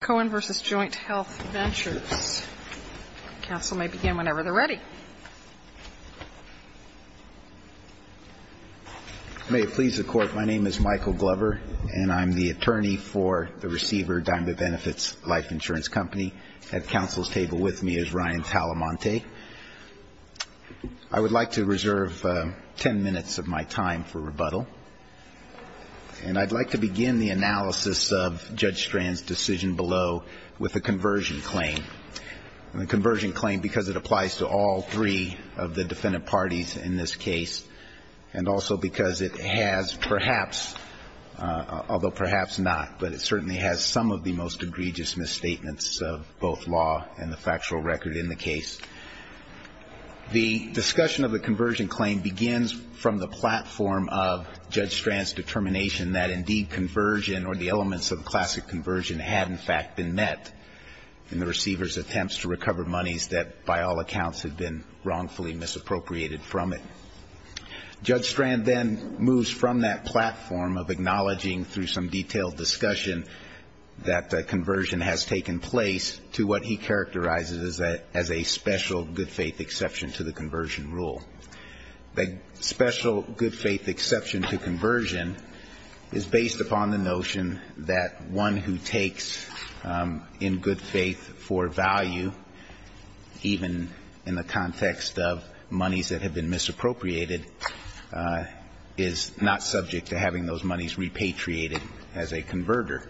Counsel may begin whenever they're ready. May it please the Court, my name is Michael Glover, and I'm the attorney for the receiver, Diamond Benefits Life Insurance Company. At counsel's table with me is Ryan Talamante. I would like to reserve ten minutes of my time for rebuttal, and I'd like to begin the analysis of Judge Strand's decision below with the conversion claim. The conversion claim, because it applies to all three of the defendant parties in this case, and also because it has perhaps, although perhaps not, but it certainly has some of the most egregious misstatements of both law and the factual record in the case. The discussion of the conversion claim begins from the platform of Judge Strand's determination that indeed conversion, or the conversion rule, had in fact been met in the receiver's attempts to recover monies that, by all accounts, had been wrongfully misappropriated from it. Judge Strand then moves from that platform of acknowledging through some detailed discussion that conversion has taken place to what he characterizes as a special good-faith exception to the conversion rule. The special good-faith exception to conversion is based upon the notion that one who takes the money from the receiver's account in good faith for value, even in the context of monies that have been misappropriated, is not subject to having those monies repatriated as a converter.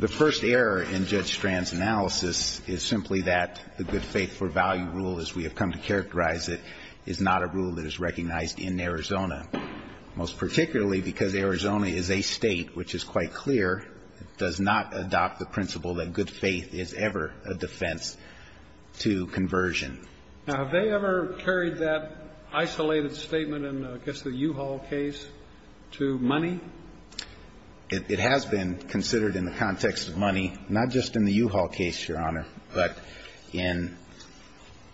The first error in Judge Strand's analysis is simply that the good-faith-for-value rule, as we have come to characterize it, is not a rule that is recognized in Arizona, most particularly because Arizona is a State which is quite clear, does not adopt the principle that good faith is ever a defense to conversion. Now, have they ever carried that isolated statement in, I guess, the U-Haul case to money? It has been considered in the context of money, not just in the U-Haul case, Your Honor, but in,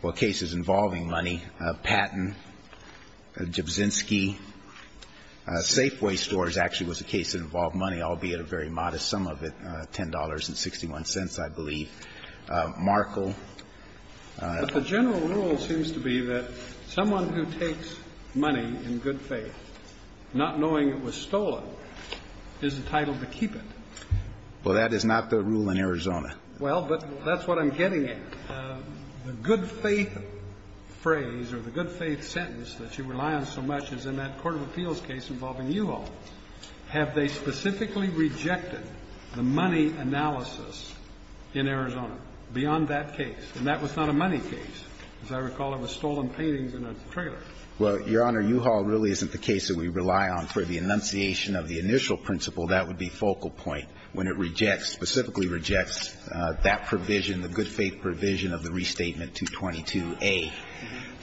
well, cases involving money. Patton, Jabzinski, Safeway Stores actually was a case that involved money, albeit a very modest sum of it, $10.61, I believe. Markle. But the general rule seems to be that someone who takes money in good faith, not knowing it was stolen, is entitled to keep it. Well, that is not the rule in Arizona. Well, but that's what I'm getting at. The good faith phrase or the good faith sentence that you rely on so much is in that court of appeals case involving U-Haul. Have they specifically rejected the money analysis in Arizona beyond that case? And that was not a money case. As I recall, it was stolen paintings in a trailer. Well, Your Honor, U-Haul really isn't the case that we rely on for the enunciation of the initial principle. That would be focal point. When it rejects, specifically rejects that provision, the good faith provision of the Restatement 222A,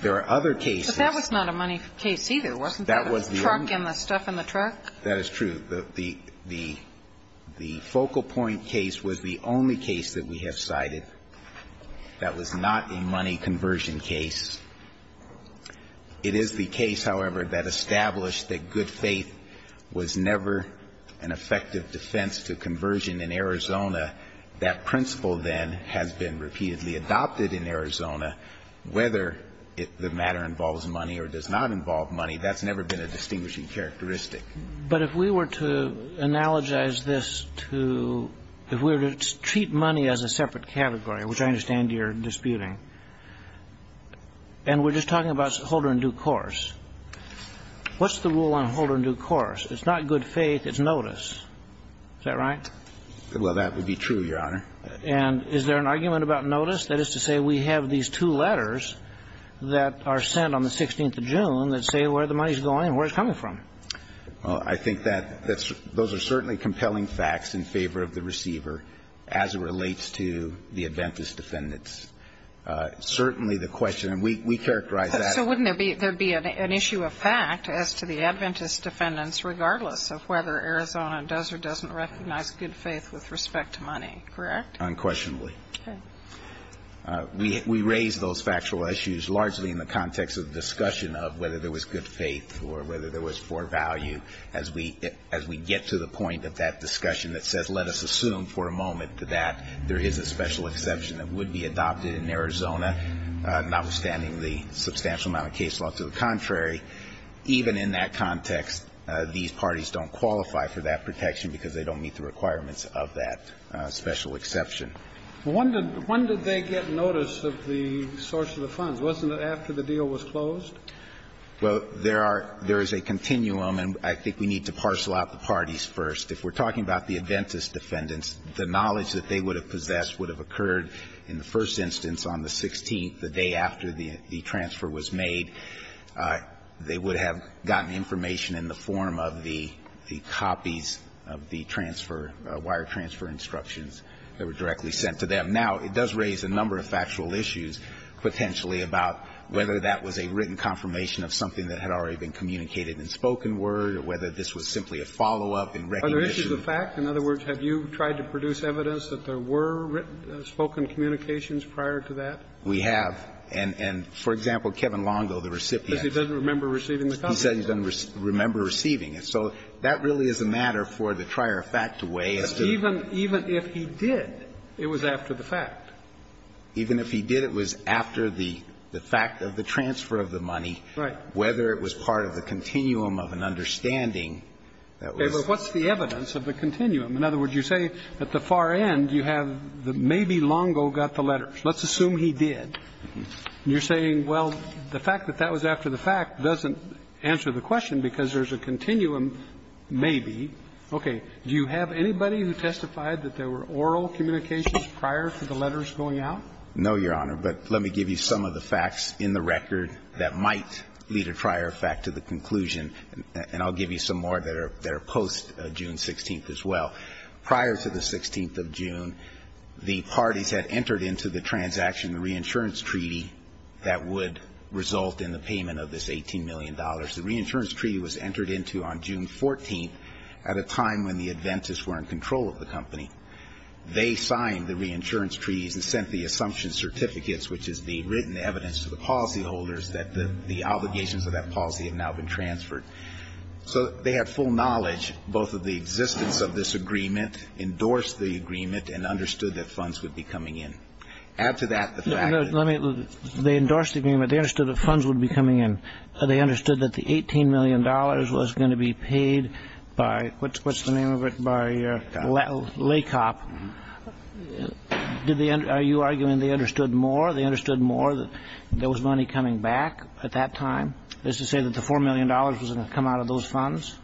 there are other cases. But that was not a money case either, wasn't there? That was the only one. The truck and the stuff in the truck? That is true. The focal point case was the only case that we have cited that was not a money conversion case. It is the case, however, that established that good faith was never an effective defense to conversion in Arizona. That principle, then, has been repeatedly adopted in Arizona. Whether the matter involves money or does not involve money, that's never been a distinguishing characteristic. But if we were to analogize this to, if we were to treat money as a separate category, which I understand you're disputing, and we're just talking about holder in due course, what's the rule on holder in due course? It's not good faith. It's notice. Is that right? Well, that would be true, Your Honor. And is there an argument about notice? That is to say we have these two letters that are sent on the 16th of June that say where the money is going and where it's coming from. Well, I think that those are certainly compelling facts in favor of the receiver as it relates to the Adventist defendants. Certainly the question, and we characterize that. So wouldn't there be an issue of fact as to the Adventist defendants regardless of whether Arizona does or doesn't recognize good faith with respect to money, correct? Unquestionably. Okay. We raise those factual issues largely in the context of the discussion of whether there was good faith or whether there was poor value. As we get to the point of that discussion that says let us assume for a moment that there is a special exception that would be adopted in Arizona, notwithstanding the substantial amount of case law. To the contrary, even in that context, these parties don't qualify for that protection because they don't meet the requirements of that special exception. Well, when did they get notice of the source of the funds? Wasn't it after the deal was closed? Well, there is a continuum, and I think we need to parcel out the parties first. If we're talking about the Adventist defendants, the knowledge that they would have the transfer was made, they would have gotten information in the form of the copies of the transfer, wire transfer instructions that were directly sent to them. Now, it does raise a number of factual issues potentially about whether that was a written confirmation of something that had already been communicated in spoken word or whether this was simply a follow-up in recognition. Are there issues of fact? In other words, have you tried to produce evidence that there were written spoken communications prior to that? We have. And for example, Kevin Longo, the recipient. Because he doesn't remember receiving the copies. He said he doesn't remember receiving it. So that really is a matter for the trier of fact to weigh. Even if he did, it was after the fact. Even if he did, it was after the fact of the transfer of the money. Right. Whether it was part of the continuum of an understanding that was. Okay. But what's the evidence of the continuum? In other words, you say at the far end you have maybe Longo got the letters. Let's assume he did. You're saying, well, the fact that that was after the fact doesn't answer the question because there's a continuum, maybe. Okay. Do you have anybody who testified that there were oral communications prior to the letters going out? No, Your Honor. But let me give you some of the facts in the record that might lead a trier of fact to the conclusion, and I'll give you some more that are post-June 16th as well. Prior to the 16th of June, the parties had entered into the transaction reinsurance treaty that would result in the payment of this $18 million. The reinsurance treaty was entered into on June 14th at a time when the Adventists were in control of the company. They signed the reinsurance treaties and sent the assumption certificates, which is the written evidence to the policyholders that the obligations of that policy had now been transferred. So they had full knowledge, both of the existence of this agreement, endorsed the agreement, and understood that funds would be coming in. Add to that the fact that they endorsed the agreement. They understood that funds would be coming in. They understood that the $18 million was going to be paid by, what's the name of it, by LACOP. Are you arguing they understood more? They understood more that there was money coming back at that time? Is to say that the $4 million was going to come out of those funds?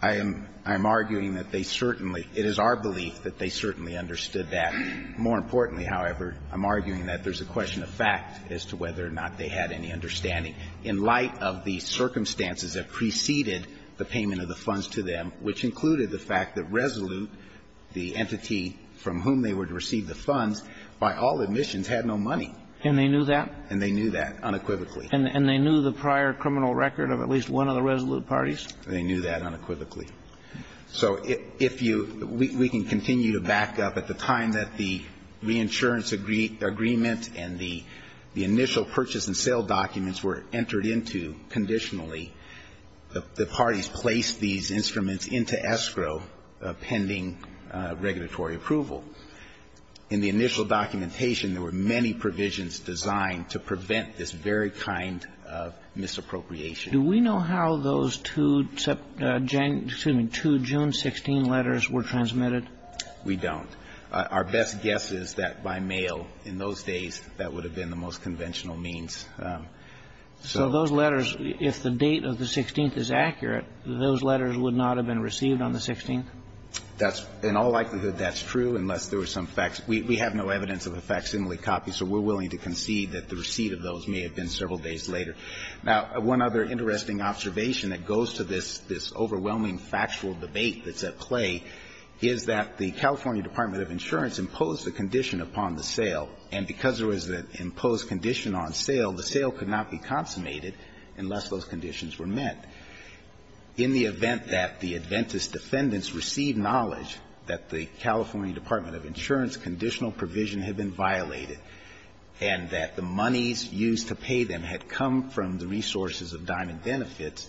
I am arguing that they certainly – it is our belief that they certainly understood that. More importantly, however, I'm arguing that there's a question of fact as to whether or not they had any understanding. In light of the circumstances that preceded the payment of the funds to them, which included the fact that Resolute, the entity from whom they would receive the funds by all admissions, had no money. And they knew that? And they knew that unequivocally. And they knew the prior criminal record of at least one of the Resolute parties? They knew that unequivocally. So if you – we can continue to back up. At the time that the reinsurance agreement and the initial purchase and sale documents were entered into conditionally, the parties placed these instruments into escrow pending regulatory approval. In the initial documentation, there were many provisions designed to prevent this very kind of misappropriation. Do we know how those two June 16 letters were transmitted? We don't. Our best guess is that by mail in those days, that would have been the most conventional means. So those letters, if the date of the 16th is accurate, those letters would not have been received on the 16th? That's – in all likelihood, that's true, unless there were some facts. We have no evidence of a facsimile copy, so we're willing to concede that the receipt of those may have been several days later. Now, one other interesting observation that goes to this overwhelming factual debate that's at play is that the California Department of Insurance imposed a condition upon the sale, and because there was an imposed condition on sale, the sale could not be consummated unless those conditions were met. In the event that the Adventist defendants received knowledge that the California Department of Insurance conditional provision had been violated and that the monies used to pay them had come from the resources of Diamond Benefits,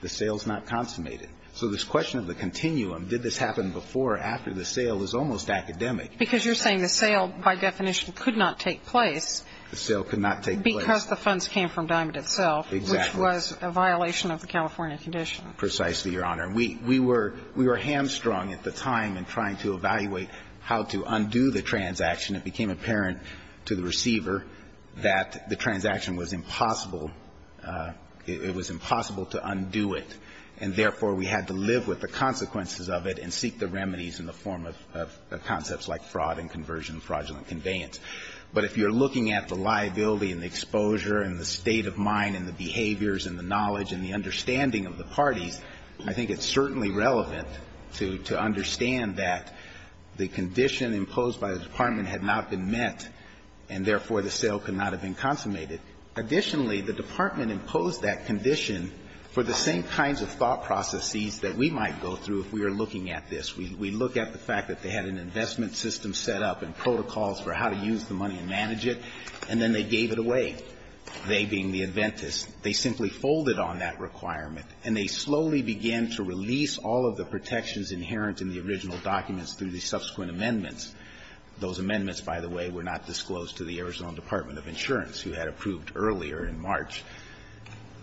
the sale is not consummated. So this question of the continuum, did this happen before or after the sale, is almost academic. Because you're saying the sale, by definition, could not take place. The sale could not take place. Because the funds came from Diamond itself. Exactly. Which was a violation of the California condition. Precisely, Your Honor. We were hamstrung at the time in trying to evaluate how to undo the transaction. It became apparent to the receiver that the transaction was impossible. It was impossible to undo it. And therefore, we had to live with the consequences of it and seek the remedies in the form of concepts like fraud and conversion, fraudulent conveyance. But if you're looking at the liability and the exposure and the state of mind and the behaviors and the knowledge and the understanding of the parties, I think it's certainly relevant to understand that the condition imposed by the Department had not been met, and therefore, the sale could not have been consummated. Additionally, the Department imposed that condition for the same kinds of thought processes that we might go through if we were looking at this. We look at the fact that they had an investment system set up and protocols for how to use the money and manage it, and then they gave it away, they being the inventors. They simply folded on that requirement, and they slowly began to release all of the protections inherent in the original documents through the subsequent amendments. Those amendments, by the way, were not disclosed to the Arizona Department of Insurance, who had approved earlier in March.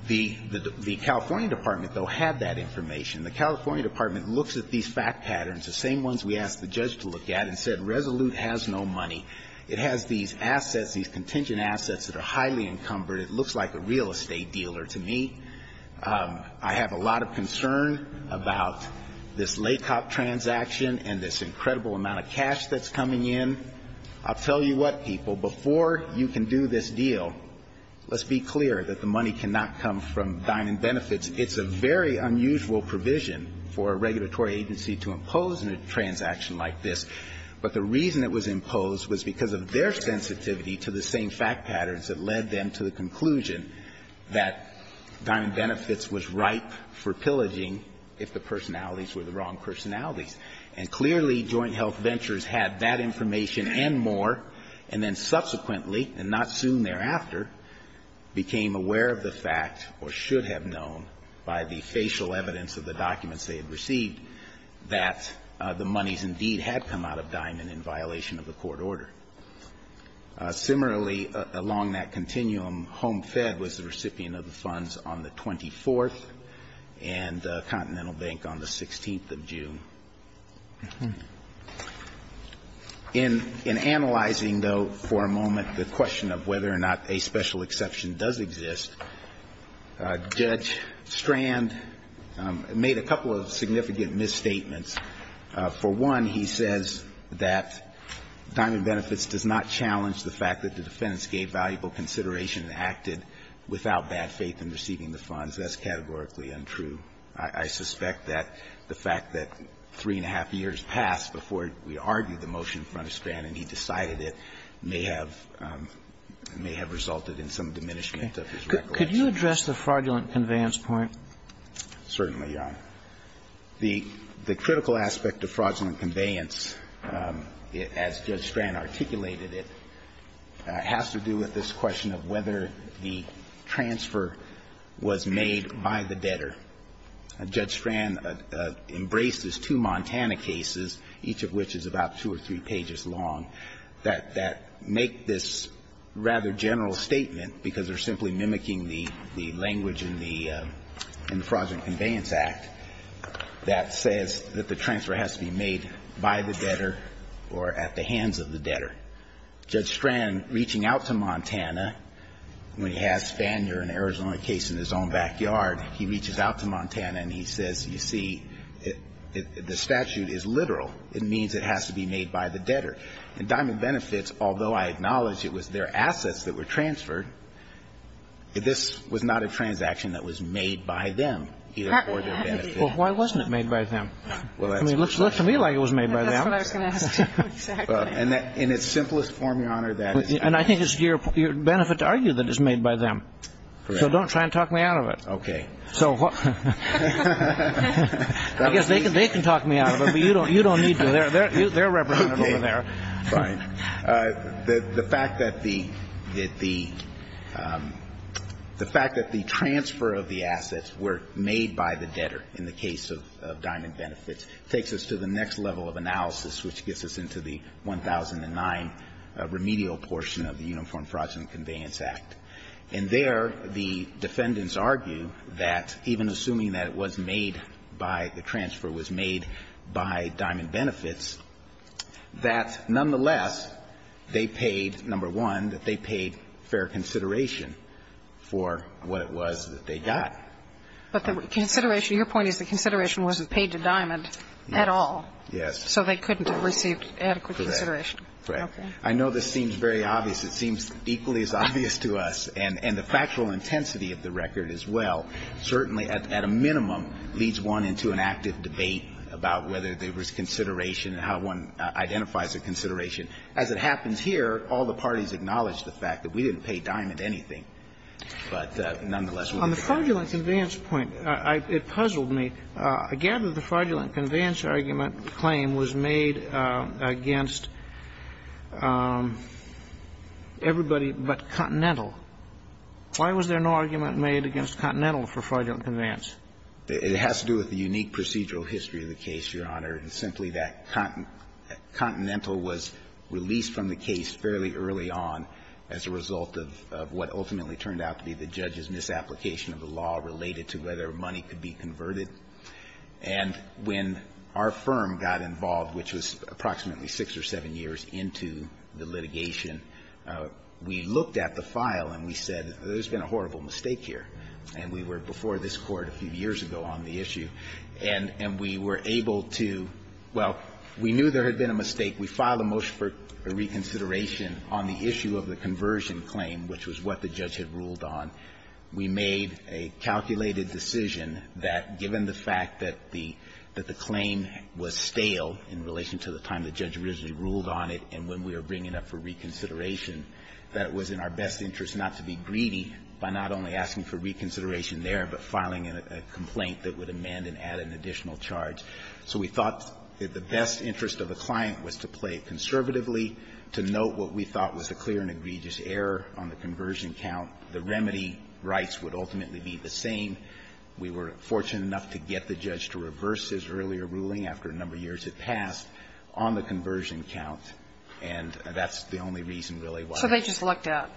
The California Department, though, had that information. The California Department looks at these fact patterns, the same ones we asked the judge to look at, and said Resolute has no money. It has these assets, these contingent assets that are highly encumbered. It looks like a real estate dealer to me. I have a lot of concern about this LACOP transaction and this incredible amount of cash that's coming in. I'll tell you what, people. Before you can do this deal, let's be clear that the money cannot come from dining benefits. It's a very unusual provision for a regulatory agency to impose in a transaction like this. But the reason it was imposed was because of their sensitivity to the same fact patterns that led them to the conclusion that dining benefits was ripe for pillaging if the personalities were the wrong personalities. And clearly, Joint Health Ventures had that information and more, and then subsequently, and not soon thereafter, became aware of the fact or should have known by the facial evidence of the documents they had received that the monies indeed had come out of Diamond in violation of the court order. Similarly, along that continuum, Home Fed was the recipient of the funds on the 24th and Continental Bank on the 16th of June. In analyzing, though, for a moment, the question of whether or not a special exception does exist, Judge Strand made a couple of significant misstatements. For one, he says that dining benefits does not challenge the fact that the defendants gave valuable consideration and acted without bad faith in receiving the funds. That's categorically untrue. I suspect that the fact that three and a half years passed before we argued the motion in front of Strand and he decided it may have resulted in some diminishment of his recollection. Could you address the fraudulent conveyance point? Certainly, Your Honor. The critical aspect of fraudulent conveyance, as Judge Strand articulated it, has to do with this question of whether the transfer was made by the debtor or at the hands of the debtor. Judge Strand embraced his two Montana cases, each of which is about two or three pages long, that make this rather general statement because they're simply mimicking the language in the Fraudulent Conveyance Act that says that the transfer has to be made by the debtor or at the hands of the debtor. Judge Strand, reaching out to Montana, when he has Spanier, an Arizona case in his own backyard, he reaches out to Montana and he says, you see, the statute is literal. It means it has to be made by the debtor. And Dining Benefits, although I acknowledge it was their assets that were transferred, this was not a transaction that was made by them, either for their benefit or not. Well, why wasn't it made by them? I mean, it looks to me like it was made by them. That's what I was going to ask you. Exactly. In its simplest form, Your Honor, that is. And I think it's your benefit to argue that it's made by them. Correct. So don't try and talk me out of it. Okay. I guess they can talk me out of it, but you don't need to. They're representative over there. Okay. Fine. The fact that the transfer of the assets were made by the debtor in the case of Dining Benefits takes us to the next level of analysis, which gets us into the 1009 remedial portion of the Uniform Fraud and Conveyance Act. In there, the defendants argue that even assuming that it was made by the transfer, was made by Dining Benefits, that nonetheless they paid, number one, that they paid fair consideration for what it was that they got. But the consideration, your point is the consideration wasn't paid to Diamond at all. Yes. So they couldn't have received adequate consideration. Correct. Correct. Okay. I know this seems very obvious. It seems equally as obvious to us. And the factual intensity of the record as well, certainly at a minimum, leads one into an active debate about whether there was consideration and how one identifies a consideration. As it happens here, all the parties acknowledge the fact that we didn't pay Diamond anything. But nonetheless, we were paid. On the fraudulent conveyance point, it puzzled me. I gather the fraudulent conveyance argument claim was made against everybody but Continental. Why was there no argument made against Continental for fraudulent conveyance? It has to do with the unique procedural history of the case, Your Honor. It's simply that Continental was released from the case fairly early on as a result of what ultimately turned out to be the judge's misapplication of a law related to whether money could be converted. And when our firm got involved, which was approximately 6 or 7 years into the litigation, we looked at the file and we said, there's been a horrible mistake here. And we were before this Court a few years ago on the issue. And we were able to – well, we knew there had been a mistake. We filed a motion for reconsideration on the issue of the conversion claim, which was what the judge had ruled on. We made a calculated decision that given the fact that the claim was stale in relation to the time the judge originally ruled on it and when we were bringing up for reconsideration, that it was in our best interest not to be greedy by not only asking for reconsideration there, but filing a complaint that would amend and add an additional charge. So we thought that the best interest of the client was to play conservatively, to note what we thought was a clear and egregious error on the conversion count. The remedy rights would ultimately be the same. We were fortunate enough to get the judge to reverse his earlier ruling after a number of years had passed on the conversion count. And that's the only reason really why. So they just looked at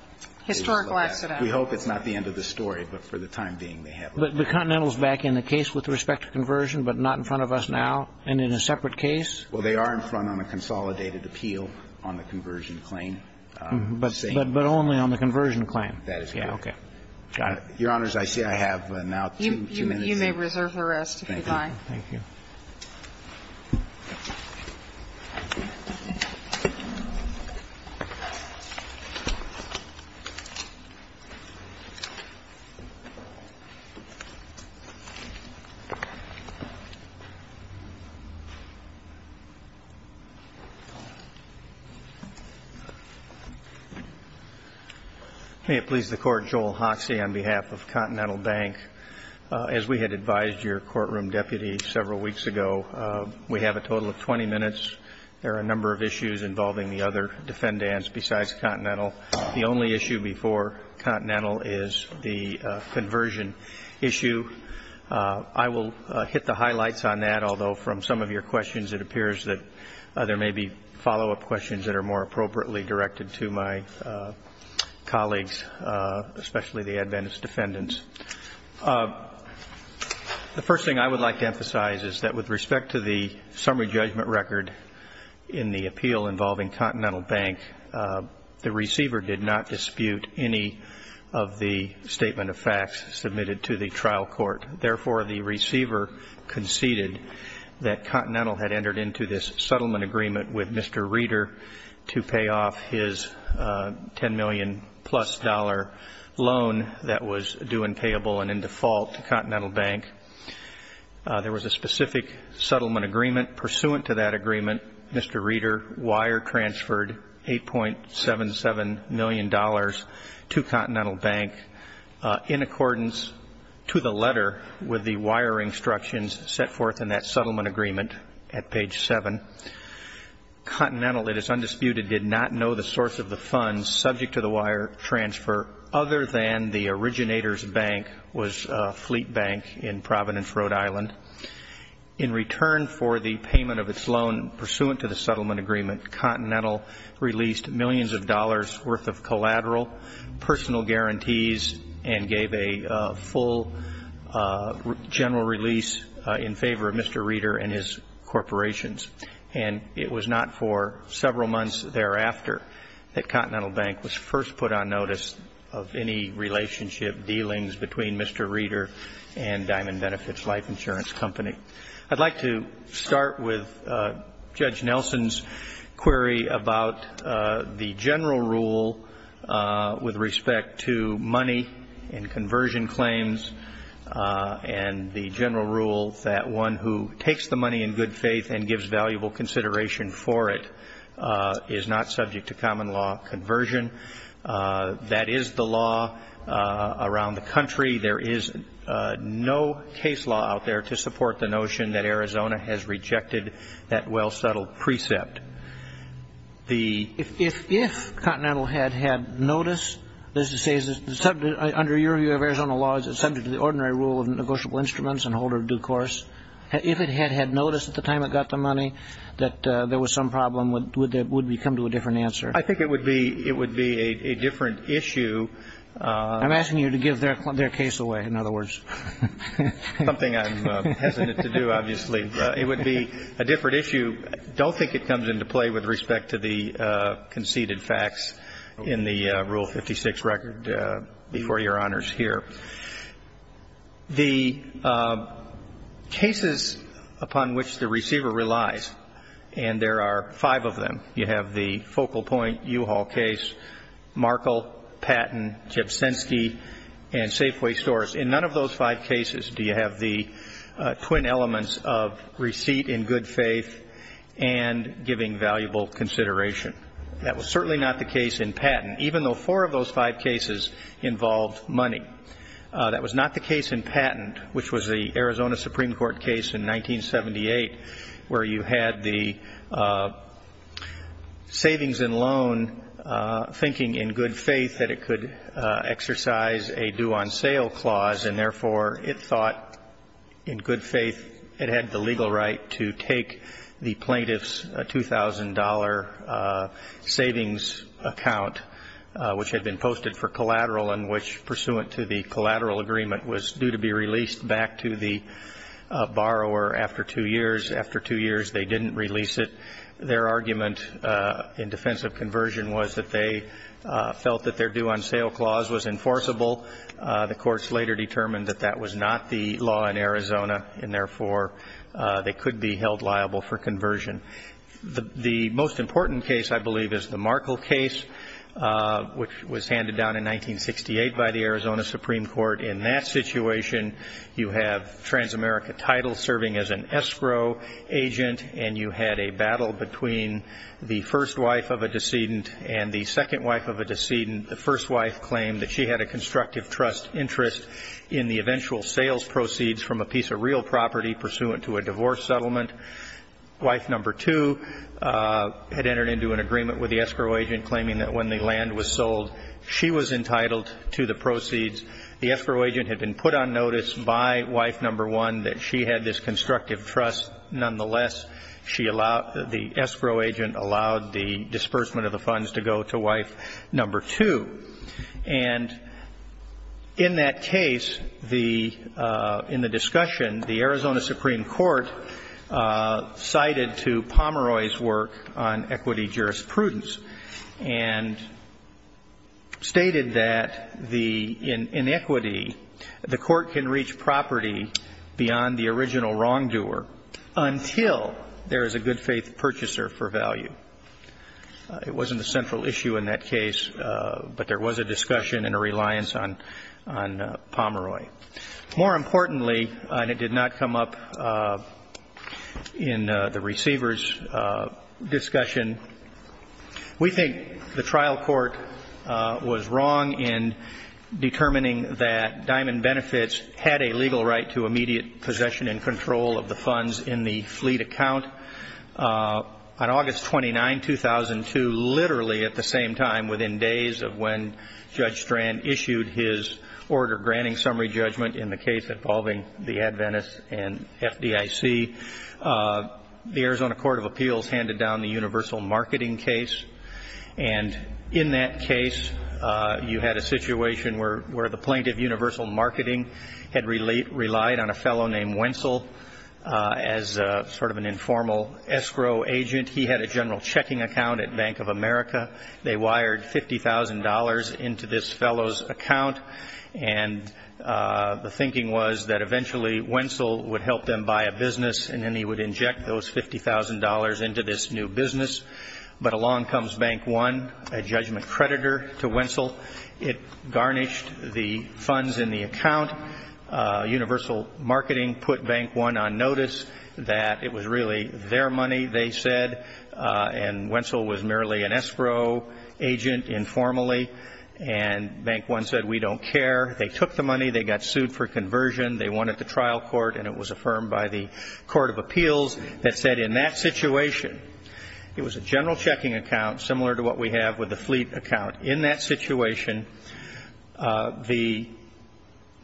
historical accident. They just looked at it. We hope it's not the end of the story. But for the time being, they have looked at it. But the Continental is back in the case with respect to conversion, but not in front of us now and in a separate case? Well, they are in front on a consolidated appeal on the conversion claim. But only on the conversion claim? That is correct. Okay. Got it. Your Honors, I see I have now two minutes. You may reserve the rest if you'd like. Thank you. May it please the Court, Joel Hoxie on behalf of Continental Bank. As we had advised your courtroom deputy several weeks ago, we have a total of 20 minutes. There are a number of issues involving the other defendants besides Continental. The only issue before Continental is the conversion issue. I will hit the highlights on that. Although from some of your questions, it appears that there may be follow-up questions that are more appropriately directed to my colleagues, especially the Adventist defendants. The first thing I would like to emphasize is that with respect to the summary judgment record in the appeal involving Continental Bank, the receiver did not dispute any of the statement of facts submitted to the trial court. Therefore, the receiver conceded that Continental had entered into this settlement agreement with Mr. Reeder to pay off his $10 million-plus loan that was due and payable and in default to Continental Bank. There was a specific settlement agreement pursuant to that agreement. Mr. Reeder wire-transferred $8.77 million to Continental Bank in accordance to the letter with the wiring instructions set forth in that settlement agreement at page 7. Continental, it is undisputed, did not know the source of the funds subject to the wire transfer other than the originator's bank was Fleet Bank in Providence, Rhode Island. In return for the payment of its loan pursuant to the settlement agreement, released millions of dollars worth of collateral, personal guarantees, and gave a full general release in favor of Mr. Reeder and his corporations. And it was not for several months thereafter that Continental Bank was first put on notice of any relationship dealings between Mr. Reeder and Diamond Benefits Life Insurance Company. I'd like to start with Judge Nelson's query about the general rule with respect to money and conversion claims and the general rule that one who takes the money in good faith and gives valuable consideration for it is not subject to common law conversion. I agree there is no case law out there to support the notion that Arizona has rejected that well-settled precept. If Continental had had notice, under your view of Arizona law, is it subject to the ordinary rule of negotiable instruments and holder of due course? If it had had notice at the time it got the money that there was some problem, would we come to a different answer? I think it would be a different issue. I'm asking you to give their case away, in other words. Something I'm hesitant to do, obviously. It would be a different issue. I don't think it comes into play with respect to the conceded facts in the Rule 56 record before Your Honors here. The cases upon which the receiver relies, and there are five of them, you have the Focal Point U-Haul case, Markle, Patton, Jabsinski, and Safeway Stores. In none of those five cases do you have the twin elements of receipt in good faith and giving valuable consideration. That was certainly not the case in Patton, even though four of those five cases involved money. That was not the case in Patton, which was the Arizona Supreme Court case in 1978, where you had the savings and loan thinking in good faith that it could exercise a due-on-sale clause, and therefore it thought in good faith it had the legal right to take the plaintiff's $2,000 savings account, which had been posted for collateral and which, pursuant to the collateral agreement, was due to be released back to the borrower after two years. After two years they didn't release it. Their argument in defense of conversion was that they felt that their due-on-sale clause was enforceable. The courts later determined that that was not the law in Arizona, and therefore they could be held liable for conversion. The most important case, I believe, is the Markle case, which was handed down in 1968 by the Arizona Supreme Court. In that situation you have Transamerica Title serving as an escrow agent, and you had a battle between the first wife of a decedent and the second wife of a decedent. The first wife claimed that she had a constructive trust interest in the eventual sales proceeds from a piece of real property pursuant to a divorce settlement. Wife number two had entered into an agreement with the escrow agent claiming that when the land was sold, she was entitled to the proceeds. The escrow agent had been put on notice by wife number one that she had this constructive trust. Nonetheless, the escrow agent allowed the disbursement of the funds to go to wife number two. And in that case, in the discussion, the Arizona Supreme Court cited to Pomeroy's work on equity jurisprudence and stated that in equity, the court can reach property beyond the original wrongdoer until there is a good faith purchaser for value. It wasn't a central issue in that case, but there was a discussion and a reliance on Pomeroy. More importantly, and it did not come up in the receiver's discussion, we think the trial court was wrong in determining that Diamond Benefits had a legal right to immediate possession and control of the funds in the fleet account. On August 29, 2002, literally at the same time, within days of when Judge Strand issued his order granting summary judgment in the case involving the Adventists and FDIC, the Arizona Court of Appeals handed down the universal marketing case. And in that case, you had a situation where the plaintiff, universal marketing, had relied on a fellow named Wenzel as sort of an informal escrow agent. He had a general checking account at Bank of America. They wired $50,000 into this fellow's account, and the thinking was that eventually Wenzel would help them buy a business, and then he would inject those $50,000 into this new business. But along comes Bank One, a judgment creditor to Wenzel. It garnished the funds in the account. Universal marketing put Bank One on notice that it was really their money, they said, and Wenzel was merely an escrow agent informally. And Bank One said, we don't care. They took the money. They got sued for conversion. They wanted the trial court, and it was affirmed by the Court of Appeals that said in that situation, it was a general checking account similar to what we have with the fleet account. In that situation, the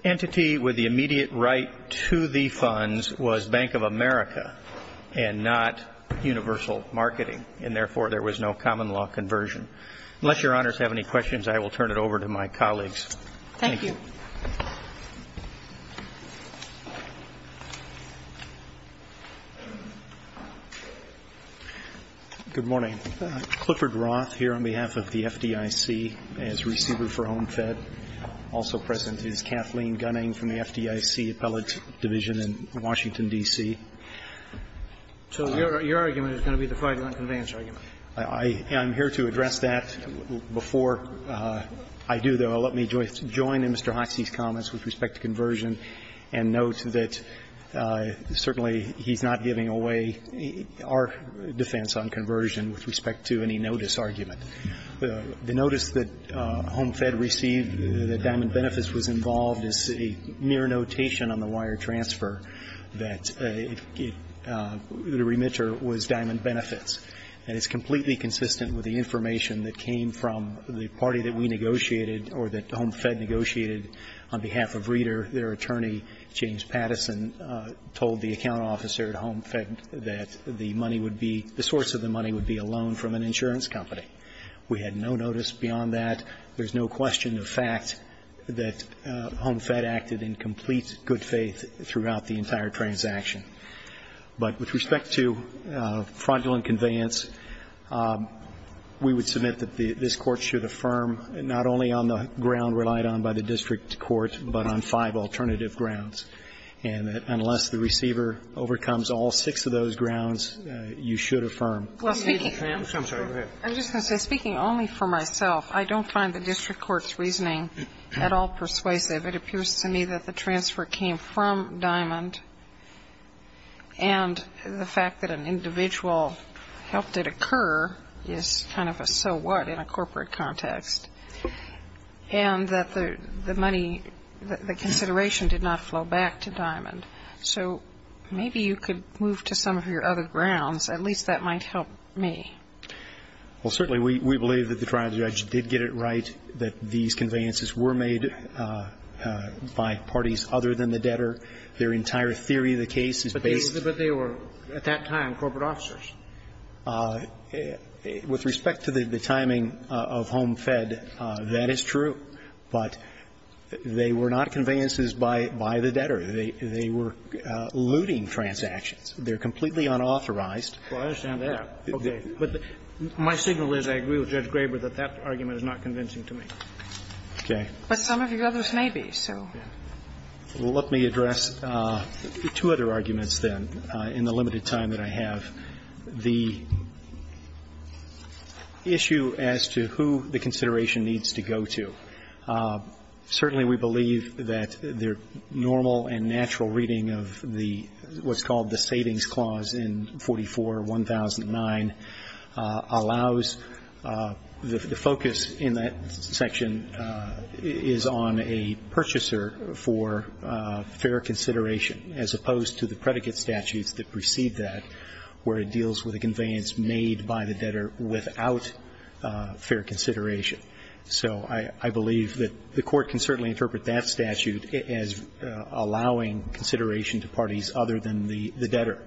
entity with the immediate right to the funds was Bank of America and not universal marketing, and therefore there was no common law conversion. Unless Your Honors have any questions, I will turn it over to my colleagues. Thank you. Good morning. Clifford Roth here on behalf of the FDIC as receiver for Home Fed. Also present is Kathleen Gunning from the FDIC Appellate Division in Washington, D.C. So your argument is going to be the fighting on conveyance argument. I'm here to address that. Before I do, though, let me join in Mr. Hotze's comments with respect to conversion and note that certainly he's not giving away our defense on conversion with respect to any notice argument. The notice that Home Fed received that Diamond Benefits was involved is a mere notation on the wire transfer that the remitter was Diamond Benefits. And it's completely consistent with the information that came from the party that we negotiated or that Home Fed negotiated on behalf of Reeder, their attorney, James Patterson, told the account officer at Home Fed that the money would be the source of the money would be a loan from an insurance company. We had no notice beyond that. There's no question of fact that Home Fed acted in complete good faith throughout the entire transaction. But with respect to fraudulent conveyance, we would submit that this Court should affirm not only on the ground relied on by the district court, but on five alternative grounds, and that unless the receiver overcomes all six of those grounds, you should affirm. I'm sorry. Go ahead. I'm just going to say, speaking only for myself, I don't find the district court's reasoning at all persuasive. It appears to me that the transfer came from Diamond, and the fact that an individual helped it occur is kind of a so what in a corporate context. And that the money, the consideration did not flow back to Diamond. So maybe you could move to some of your other grounds. At least that might help me. Well, certainly we believe that the trial judge did get it right that these conveyances were made by parties other than the debtor. Their entire theory of the case is based on that. But they were, at that time, corporate officers. With respect to the timing of Home Fed, that is true. But they were not conveyances by the debtor. They were looting transactions. They're completely unauthorized. Well, I understand that. Okay. But my signal is I agree with Judge Graber that that argument is not convincing to me. Okay. But some of your others may be, so. Well, let me address two other arguments, then, in the limited time that I have. The issue as to who the consideration needs to go to. Certainly we believe that their normal and natural reading of the what's called the savings clause in 44-1009 allows the focus in that section is on a purchaser for fair consideration, as opposed to the predicate statutes that precede that, where it deals with a conveyance made by the debtor without fair consideration. So I believe that the court can certainly interpret that statute as allowing consideration to parties other than the debtor.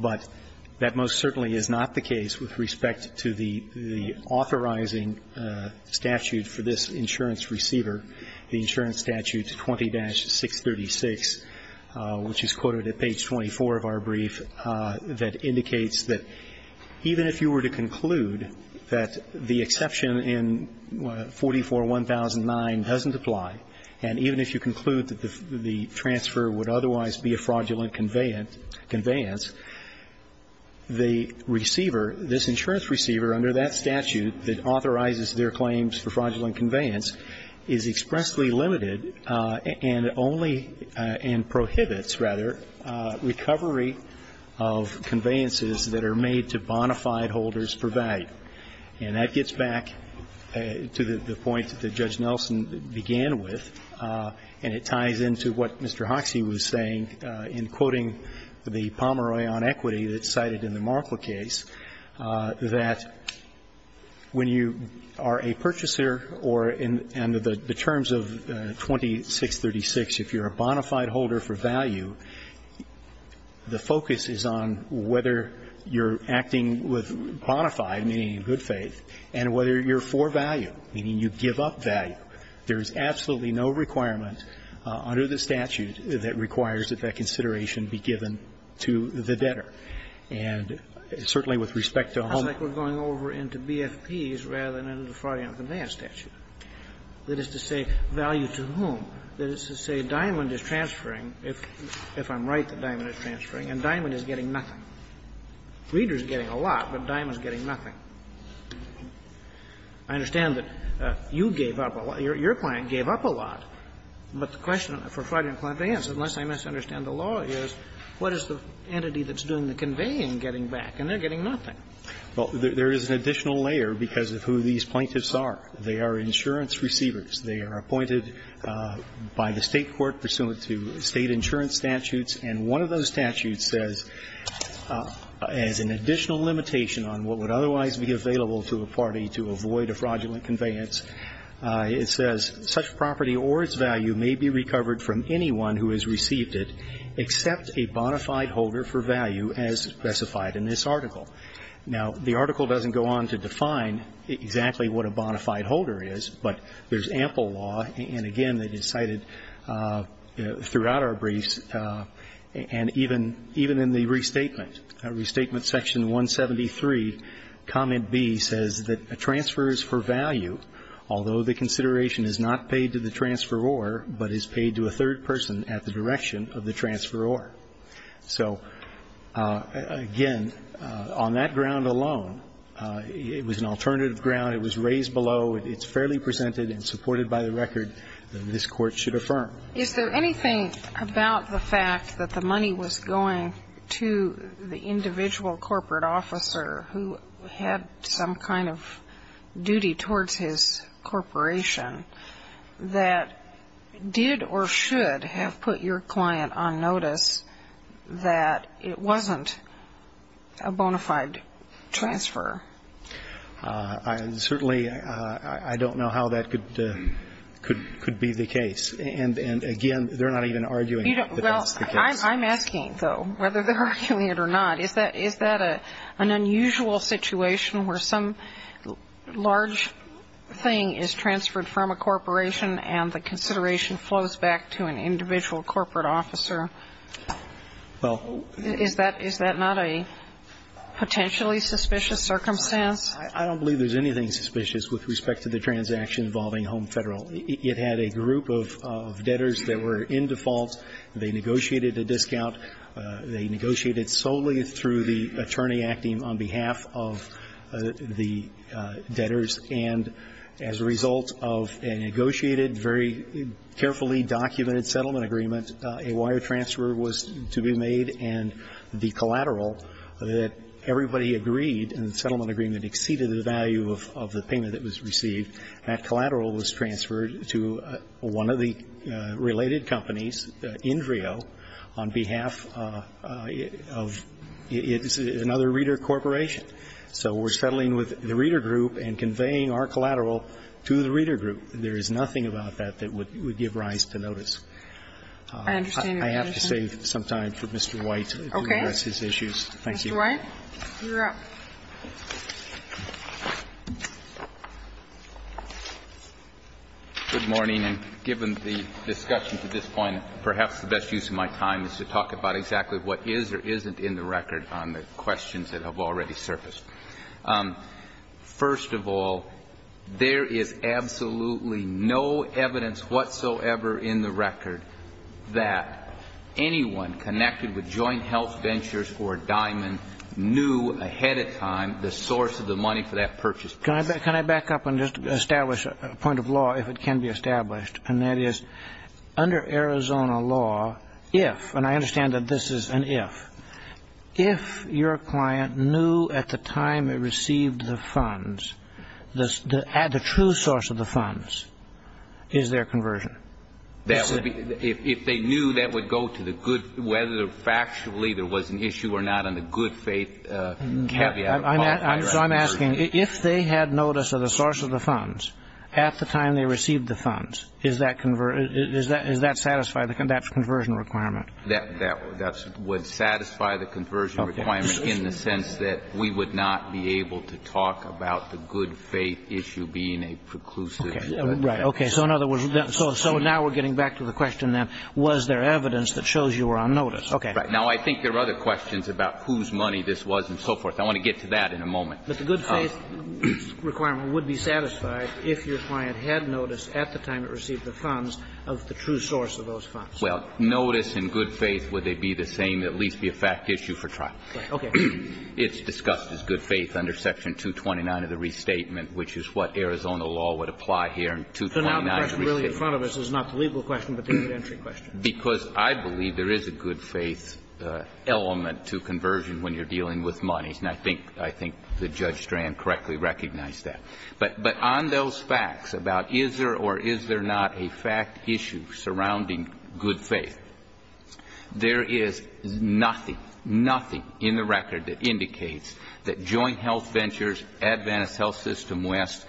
But that most certainly is not the case with respect to the authorizing statute for this insurance receiver, the insurance statute 20-636, which is quoted at page 24 of our brief, that indicates that even if you were to conclude that the exception in 44-1009 doesn't apply, and even if you conclude that the transfer would otherwise be a fraudulent conveyance, the receiver, this insurance receiver under that statute that authorizes their claims for fraudulent conveyance is expressly limited and only and prohibits, rather, recovery of conveyances that are made to bona fide holders for value. And that gets back to the point that Judge Nelson began with, and it ties into what Mr. Hoxie was saying in quoting the Pomeroy on equity that's cited in the Markle case, that when you are a purchaser or in the terms of 20-636, if you're a bona fide holder for value, the focus is on whether you're acting with bona fide or bona fide meaning in good faith, and whether you're for value, meaning you give up value. There is absolutely no requirement under the statute that requires that that consideration be given to the debtor. And certainly with respect to a homeowner or a homeowner's debtor, it's not a fraudulent conveyance statute. That is to say, value to whom? That is to say, Diamond is transferring, if I'm right that Diamond is transferring, and Diamond is getting nothing. Reeder is getting a lot, but Diamond is getting nothing. I understand that you gave up a lot, your client gave up a lot, but the question for fraudulent conveyance, unless I misunderstand the law, is what is the entity that's doing the conveying getting back, and they're getting nothing. Well, there is an additional layer because of who these plaintiffs are. They are insurance receivers. They are appointed by the State court pursuant to State insurance statutes, and one of those statutes says, as an additional limitation on what would otherwise be available to a party to avoid a fraudulent conveyance, it says, such property or its value may be recovered from anyone who has received it except a bona fide holder for value as specified in this article. Now the article doesn't go on to define exactly what a bona fide holder is, but there's And even in the restatement, restatement section 173, comment B says that a transferor is for value, although the consideration is not paid to the transferor, but is paid to a third person at the direction of the transferor. So, again, on that ground alone, it was an alternative ground. It was raised below. It's fairly presented and supported by the record that this Court should affirm. Is there anything about the fact that the money was going to the individual corporate officer who had some kind of duty towards his corporation that did or should have put your client on notice that it wasn't a bona fide transfer? I certainly don't know how that could be the case. And, again, they're not even arguing that that's the case. I'm asking, though, whether they're arguing it or not, is that an unusual situation where some large thing is transferred from a corporation and the consideration flows back to an individual corporate officer? Is that not a potentially suspicious circumstance? I don't believe there's anything suspicious with respect to the transaction involving Home Federal. It had a group of debtors that were in default. They negotiated a discount. They negotiated solely through the attorney acting on behalf of the debtors. And as a result of a negotiated, very carefully documented settlement agreement, a wire transfer was to be made, and the collateral that everybody agreed in the settlement agreement exceeded the value of the payment that was received, that collateral was transferred to one of the related companies, Indrio, on behalf of another reader corporation. So we're settling with the reader group and conveying our collateral to the reader group. There is nothing about that that would give rise to notice. I have to save some time for Mr. White to address his issues. Mr. White, you're up. Good morning. And given the discussion to this point, perhaps the best use of my time is to talk about exactly what is or isn't in the record on the questions that have already surfaced. First of all, there is absolutely no evidence whatsoever in the record that anyone connected with joint health ventures or Diamond knew ahead of time the source of the money for that purchase. Can I back up and just establish a point of law, if it can be established, and that is under Arizona law, if, and I understand that this is an if, if your client knew at the time it received the funds, the true source of the funds is their conversion. That would be, if they knew that would go to the good, whether factually there was an issue or not on the good faith caveat. So I'm asking, if they had notice of the source of the funds at the time they received the funds, is that conversion, is that satisfy the conversion requirement? That would satisfy the conversion requirement in the sense that we would not be able to talk about the good faith issue being a preclusive. Right. Okay. So in other words, so now we're getting back to the question then, was there evidence that shows you were on notice? Okay. Right. Now, I think there are other questions about whose money this was and so forth. I want to get to that in a moment. But the good faith requirement would be satisfied if your client had notice at the time it received the funds of the true source of those funds. Well, notice and good faith, would they be the same, at least be a fact issue for trial? Right. Okay. It's discussed as good faith under Section 229 of the Restatement, which is what Arizona law would apply here in 229 of the Restatement. So now the question really in front of us is not the legal question, but the entry question. Because I believe there is a good faith element to conversion when you're dealing with monies. And I think the Judge Strand correctly recognized that. But on those facts about is there or is there not a fact issue surrounding good faith, there is nothing, nothing in the record that indicates that Joint Health Ventures, Adventist Health System West,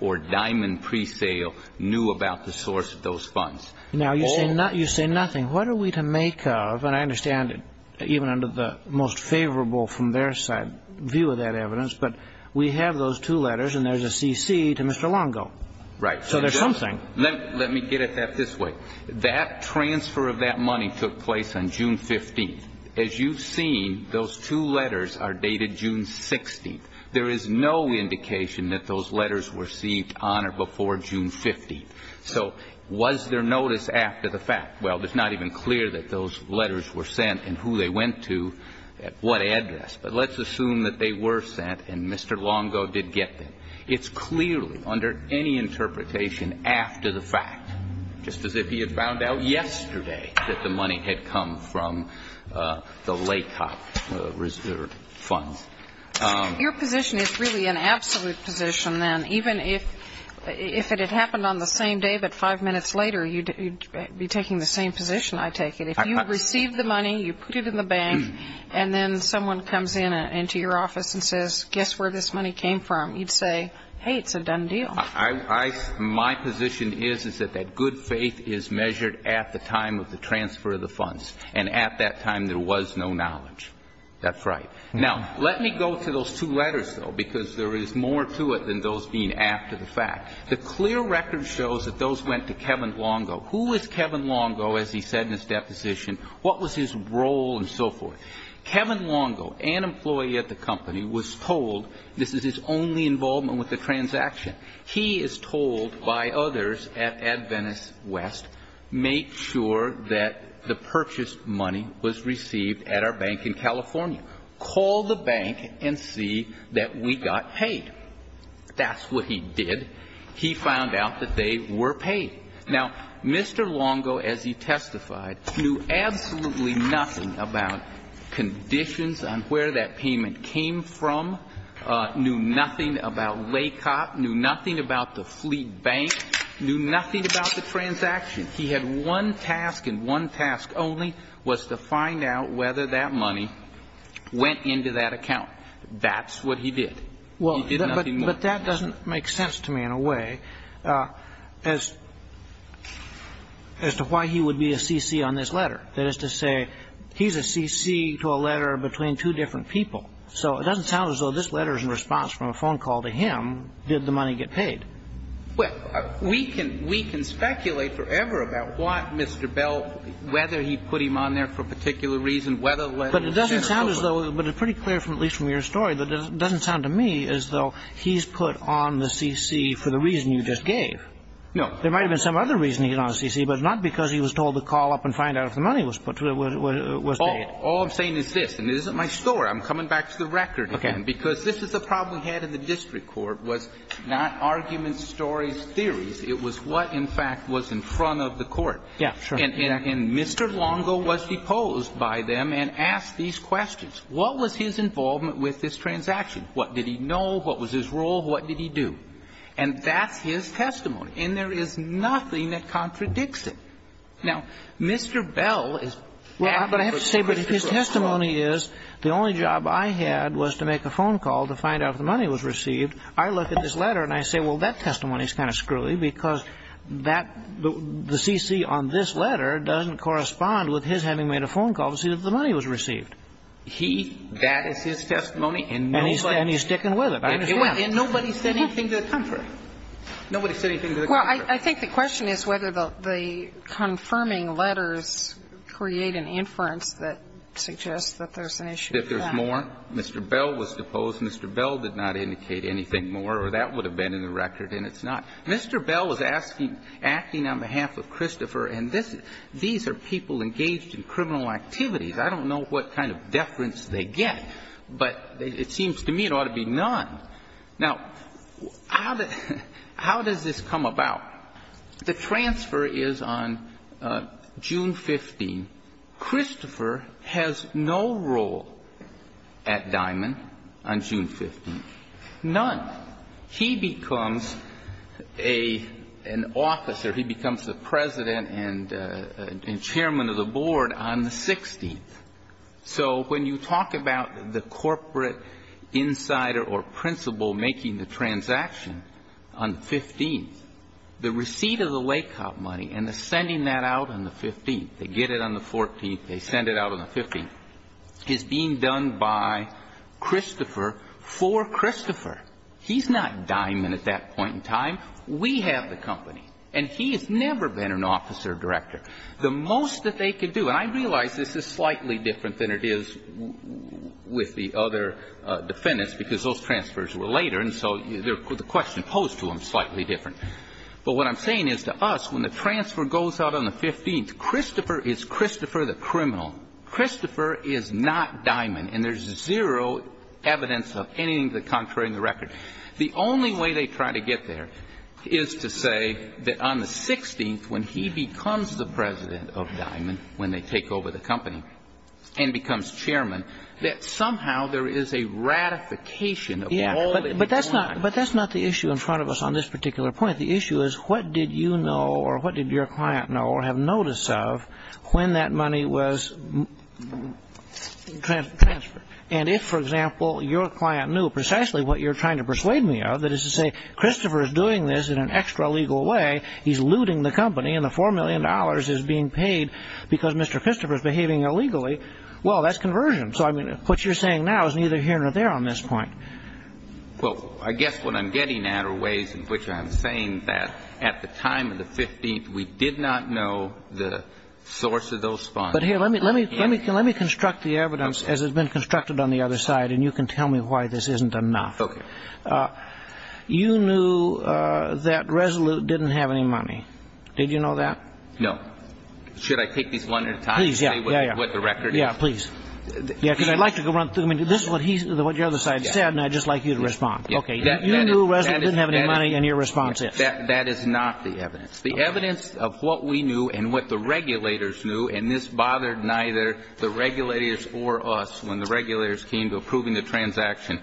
or Diamond Presale knew about the source of those funds. Now, you say nothing. What are we to make of, and I understand even under the most favorable from their side view of that evidence, but we have those two letters and there's a CC to Mr. Longo. Right. So there's something. Let me get at that this way. That transfer of that money took place on June 15th. As you've seen, those two letters are dated June 16th. There is no indication that those letters were received on or before June 15th. So was there notice after the fact? Well, it's not even clear that those letters were sent and who they went to at what address. But let's assume that they were sent and Mr. Longo did get them. It's clearly under any interpretation after the fact, just as if he had found out yesterday that the money had come from the LACOP reserve fund. Your position is really an absolute position, then, even if it had happened on the same day, but five minutes later, you'd be taking the same position, I take it. If you received the money, you put it in the bank, and then someone comes into your office and says, guess where this money came from? You'd say, hey, it's a done deal. My position is, is that that good faith is measured at the time of the transfer of the funds. And at that time, there was no knowledge. That's right. Now, let me go to those two letters, though, because there is more to it than those being after the fact. The clear record shows that those went to Kevin Longo. Who was Kevin Longo, as he said in his deposition? What was his role and so forth? Kevin Longo, an employee at the company, was told this is his only involvement with the transaction. He is told by others at Adventist West, make sure that the purchased money was received at our bank in California. Call the bank and see that we got paid. That's what he did. He found out that they were paid. Now, Mr. Longo, as he testified, knew absolutely nothing about conditions on where that payment came from, knew nothing about LACOP, knew nothing about the fleet bank, knew nothing about the transaction. He had one task, and one task only was to find out whether that money went into that account. That's what he did. He did nothing more than that. And I'm not sure that this is a letter to Mr. Bell, but it does sound to me in a way as to why he would be a CC on this letter, that is to say, he's a CC to a letter between two different people. So it doesn't sound as though this letter is in response from a phone call to him, did the money get paid? Well, we can speculate forever about what Mr. Bell, whether he put him on there for a particular reason, whether the letter was sent or not. But it doesn't sound as though, but it's pretty clear, at least from your story, that it doesn't sound to me as though he's put on the CC for the reason you just gave. No. There might have been some other reason he got on the CC, but not because he was told to call up and find out if the money was paid. All I'm saying is this, and this isn't my story. I'm coming back to the record again, because this is the problem we had in the district court, was not arguments, stories, theories. It was what, in fact, was in front of the court. Yeah, sure. And Mr. Longo was deposed by them and asked these questions. What was his involvement with this transaction? What did he know? What was his role? What did he do? And that's his testimony. And there is nothing that contradicts it. Now, Mr. Bell is acting for the district court. Well, but I have to say, but his testimony is, the only job I had was to make a phone call to find out if the money was received. I look at this letter, and I say, well, that testimony is kind of screwy, because that, the CC on this letter doesn't correspond with his having made a phone call to see if the money was received. He, that is his testimony, and nobody's saying anything to the contrary. Nobody said anything to the contrary. Well, I think the question is whether the confirming letters create an inference that suggests that there's an issue with them. If there's more, Mr. Bell was deposed, Mr. Bell did not indicate anything more, or that would have been in the record, and it's not. Mr. Bell was asking, acting on behalf of Christopher, and this, these are people engaged in criminal activities. I don't know what kind of deference they get, but it seems to me it ought to be none. Now, how does this come about? The transfer is on June 15. Christopher has no role at Diamond on June 15. None. He becomes an officer. He becomes the president and chairman of the board on the 16th. So when you talk about the corporate insider or principal making the transaction on the 15th, the receipt of the lay cop money and the sending that out on the 15th, they get it on the 14th, they send it out on the 15th, is being done by Christopher for Christopher. He's not Diamond at that point in time. We have the company, and he has never been an officer director. The most that they could do, and I realize this is slightly different than it is with the other defendants, because those transfers were later, and so the question posed to them is slightly different. But what I'm saying is to us, when the transfer goes out on the 15th, Christopher is Christopher the criminal. Christopher is not Diamond, and there's zero evidence of anything to the contrary in the record. The only way they try to get there is to say that on the 16th, when he becomes the president of Diamond, when they take over the company and becomes chairman, that somehow there is a ratification of all that they've done. But that's not the issue in front of us on this particular point. The issue is what did you know or what did your client know or when that money was transferred. And if, for example, your client knew precisely what you're trying to persuade me of, that is to say, Christopher is doing this in an extra legal way. He's looting the company, and the $4 million is being paid because Mr. Christopher is behaving illegally, well, that's conversion. So I mean, what you're saying now is neither here nor there on this point. Well, I guess what I'm getting at are ways in which I'm saying that at the time of the 15th, we did not know the source of those funds. But here, let me construct the evidence as it's been constructed on the other side, and you can tell me why this isn't enough. Okay. You knew that Resolute didn't have any money. Did you know that? No. Should I take these one at a time and say what the record is? Yeah, please. Yeah, because I'd like to go run through, I mean, this is what your other side said, and I'd just like you to respond. Okay, you knew Resolute didn't have any money, and your response is? That is not the evidence. The evidence of what we knew and what the regulators knew, and this bothered neither the regulators or us when the regulators came to approving the transaction,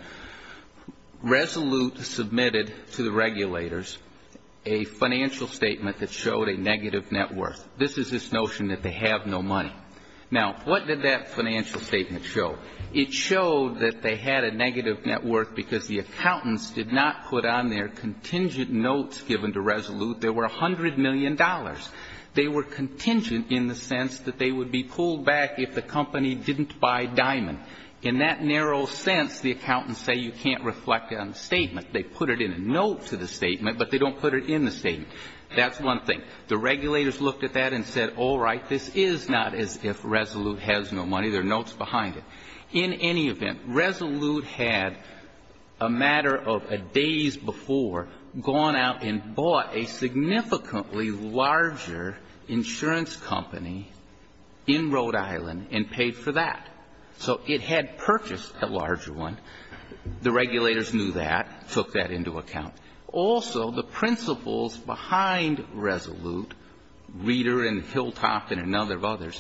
Resolute submitted to the regulators a financial statement that showed a negative net worth. This is this notion that they have no money. Now what did that financial statement show? It showed that they had a negative net worth because the accountants did not put on their contingent notes given to Resolute there were $100 million. They were contingent in the sense that they would be pulled back if the company didn't buy Diamond. In that narrow sense, the accountants say you can't reflect it on the statement. They put it in a note to the statement, but they don't put it in the statement. That's one thing. The regulators looked at that and said, all right, this is not as if Resolute has no money. There are notes behind it. In any event, Resolute had a matter of days before gone out and bought a significantly larger insurance company in Rhode Island and paid for that. So it had purchased a larger one. The regulators knew that, took that into account. Also, the principals behind Resolute, Reeder and Hilltop and a number of others,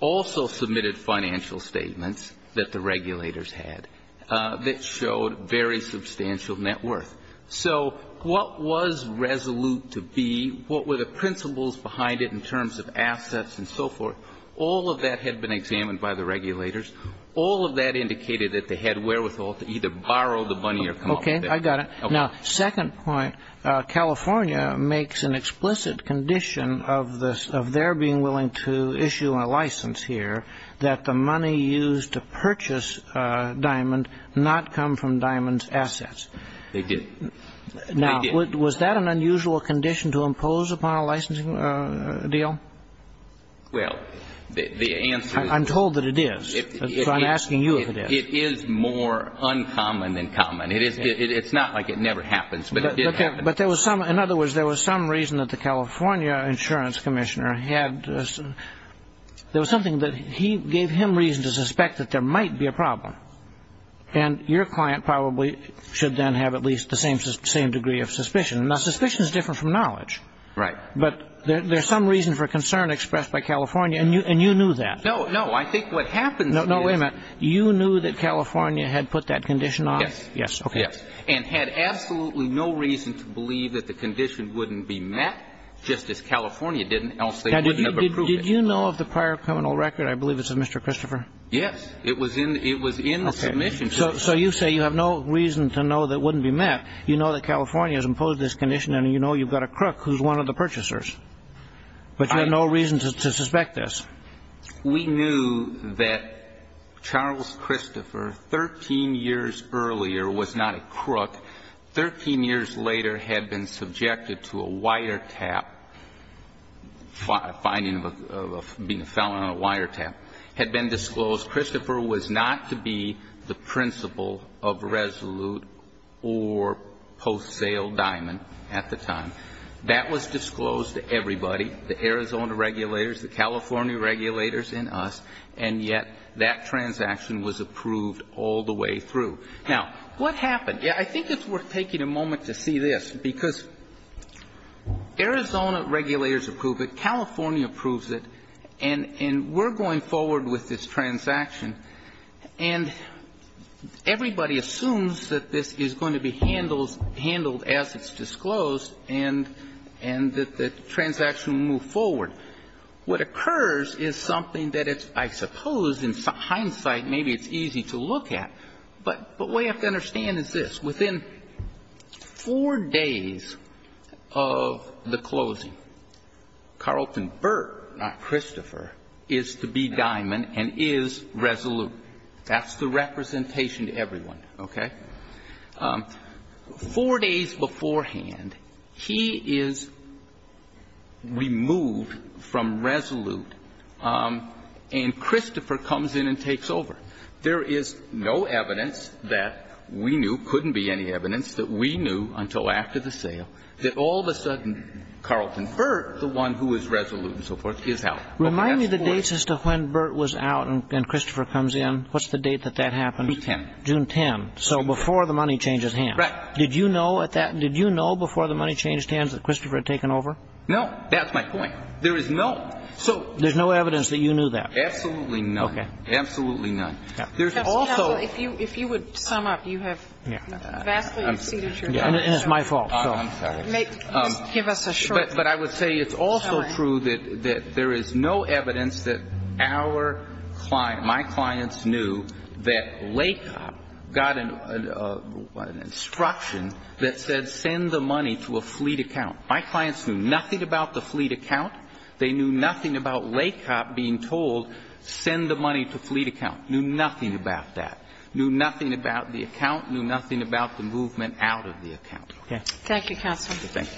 also submitted financial statements that the regulators had that showed very substantial net worth. So what was Resolute to be, what were the principals behind it in terms of assets and so forth, all of that had been examined by the regulators. All of that indicated that they had wherewithal to either borrow the money or come up with it. Okay, I got it. Now, second point, California makes an explicit condition of their being willing to issue a license here that the money used to purchase Diamond not come from Diamond's assets. They didn't. They didn't. Now, was that an unusual condition to impose upon a licensing deal? Well, the answer is... I'm told that it is, so I'm asking you if it is. It is more uncommon than common. It's not like it never happens, but it did happen. But there was some, in other words, there was some reason that the California Insurance Commissioner had, there was something that he gave him reason to suspect that there might be a problem, and your client probably should then have at least the same degree of suspicion. Now, suspicion is different from knowledge. Right. But there's some reason for concern expressed by California, and you knew that. No, I think what happens is... No, wait a minute. You knew that California had put that condition on? Yes. Yes, okay. Yes, and had absolutely no reason to believe that the condition wouldn't be met, just as California didn't, else they wouldn't have approved it. Now, did you know of the prior criminal record? I believe it's of Mr. Christopher. Yes. It was in the submission. Okay. So you say you have no reason to know that it wouldn't be met. You know that California has imposed this condition, and you know you've got a crook who's one of the purchasers. But you had no reason to suspect this. We knew that Charles Christopher, 13 years earlier, was not a crook. Thirteen years later, had been subjected to a wiretap, finding of being a felon on a wiretap, had been disclosed. Christopher was not to be the principal of Resolute or Post Sale Diamond at the time. That was disclosed to everybody. The Arizona regulators, the California regulators, and us, and yet that transaction was approved all the way through. Now, what happened? I think it's worth taking a moment to see this, because Arizona regulators approved it, California approves it, and we're going forward with this transaction, and everybody assumes that this is going to be handled as it's disclosed, and that the transaction will move forward. What occurs is something that I suppose, in hindsight, maybe it's easy to look at, but what you have to understand is this. Within four days of the closing, Carlton Burt, not Christopher, is to be Diamond and is Resolute. That's the representation to everyone, okay? Four days beforehand, he is removed from Resolute, and Christopher comes in and takes over. There is no evidence that we knew, couldn't be any evidence that we knew until after the sale, that all of a sudden Carlton Burt, the one who is Resolute and so forth, Okay, that's four days. Remind me the dates as to when Burt was out and Christopher comes in. What's the date that that happened? June 10th. June 10th. So before the money changes hands. Right. Did you know at that, did you know before the money changed hands that Christopher had taken over? No. That's my point. There is no, so There's no evidence that you knew that? Absolutely none. Okay. Absolutely none. There's also Counsel, if you would sum up, you have vastly exceeded your time. And it's my fault, so I'm sorry. Give us a short But I would say it's also true that there is no evidence that our client, my clients knew that LACOP got an instruction that said send the money to a fleet account. My clients knew nothing about the fleet account. They knew nothing about LACOP being told send the money to fleet account. Knew nothing about that. Knew nothing about the account. Knew nothing about the movement out of the account. Okay. Thank you, Counsel. Thank you.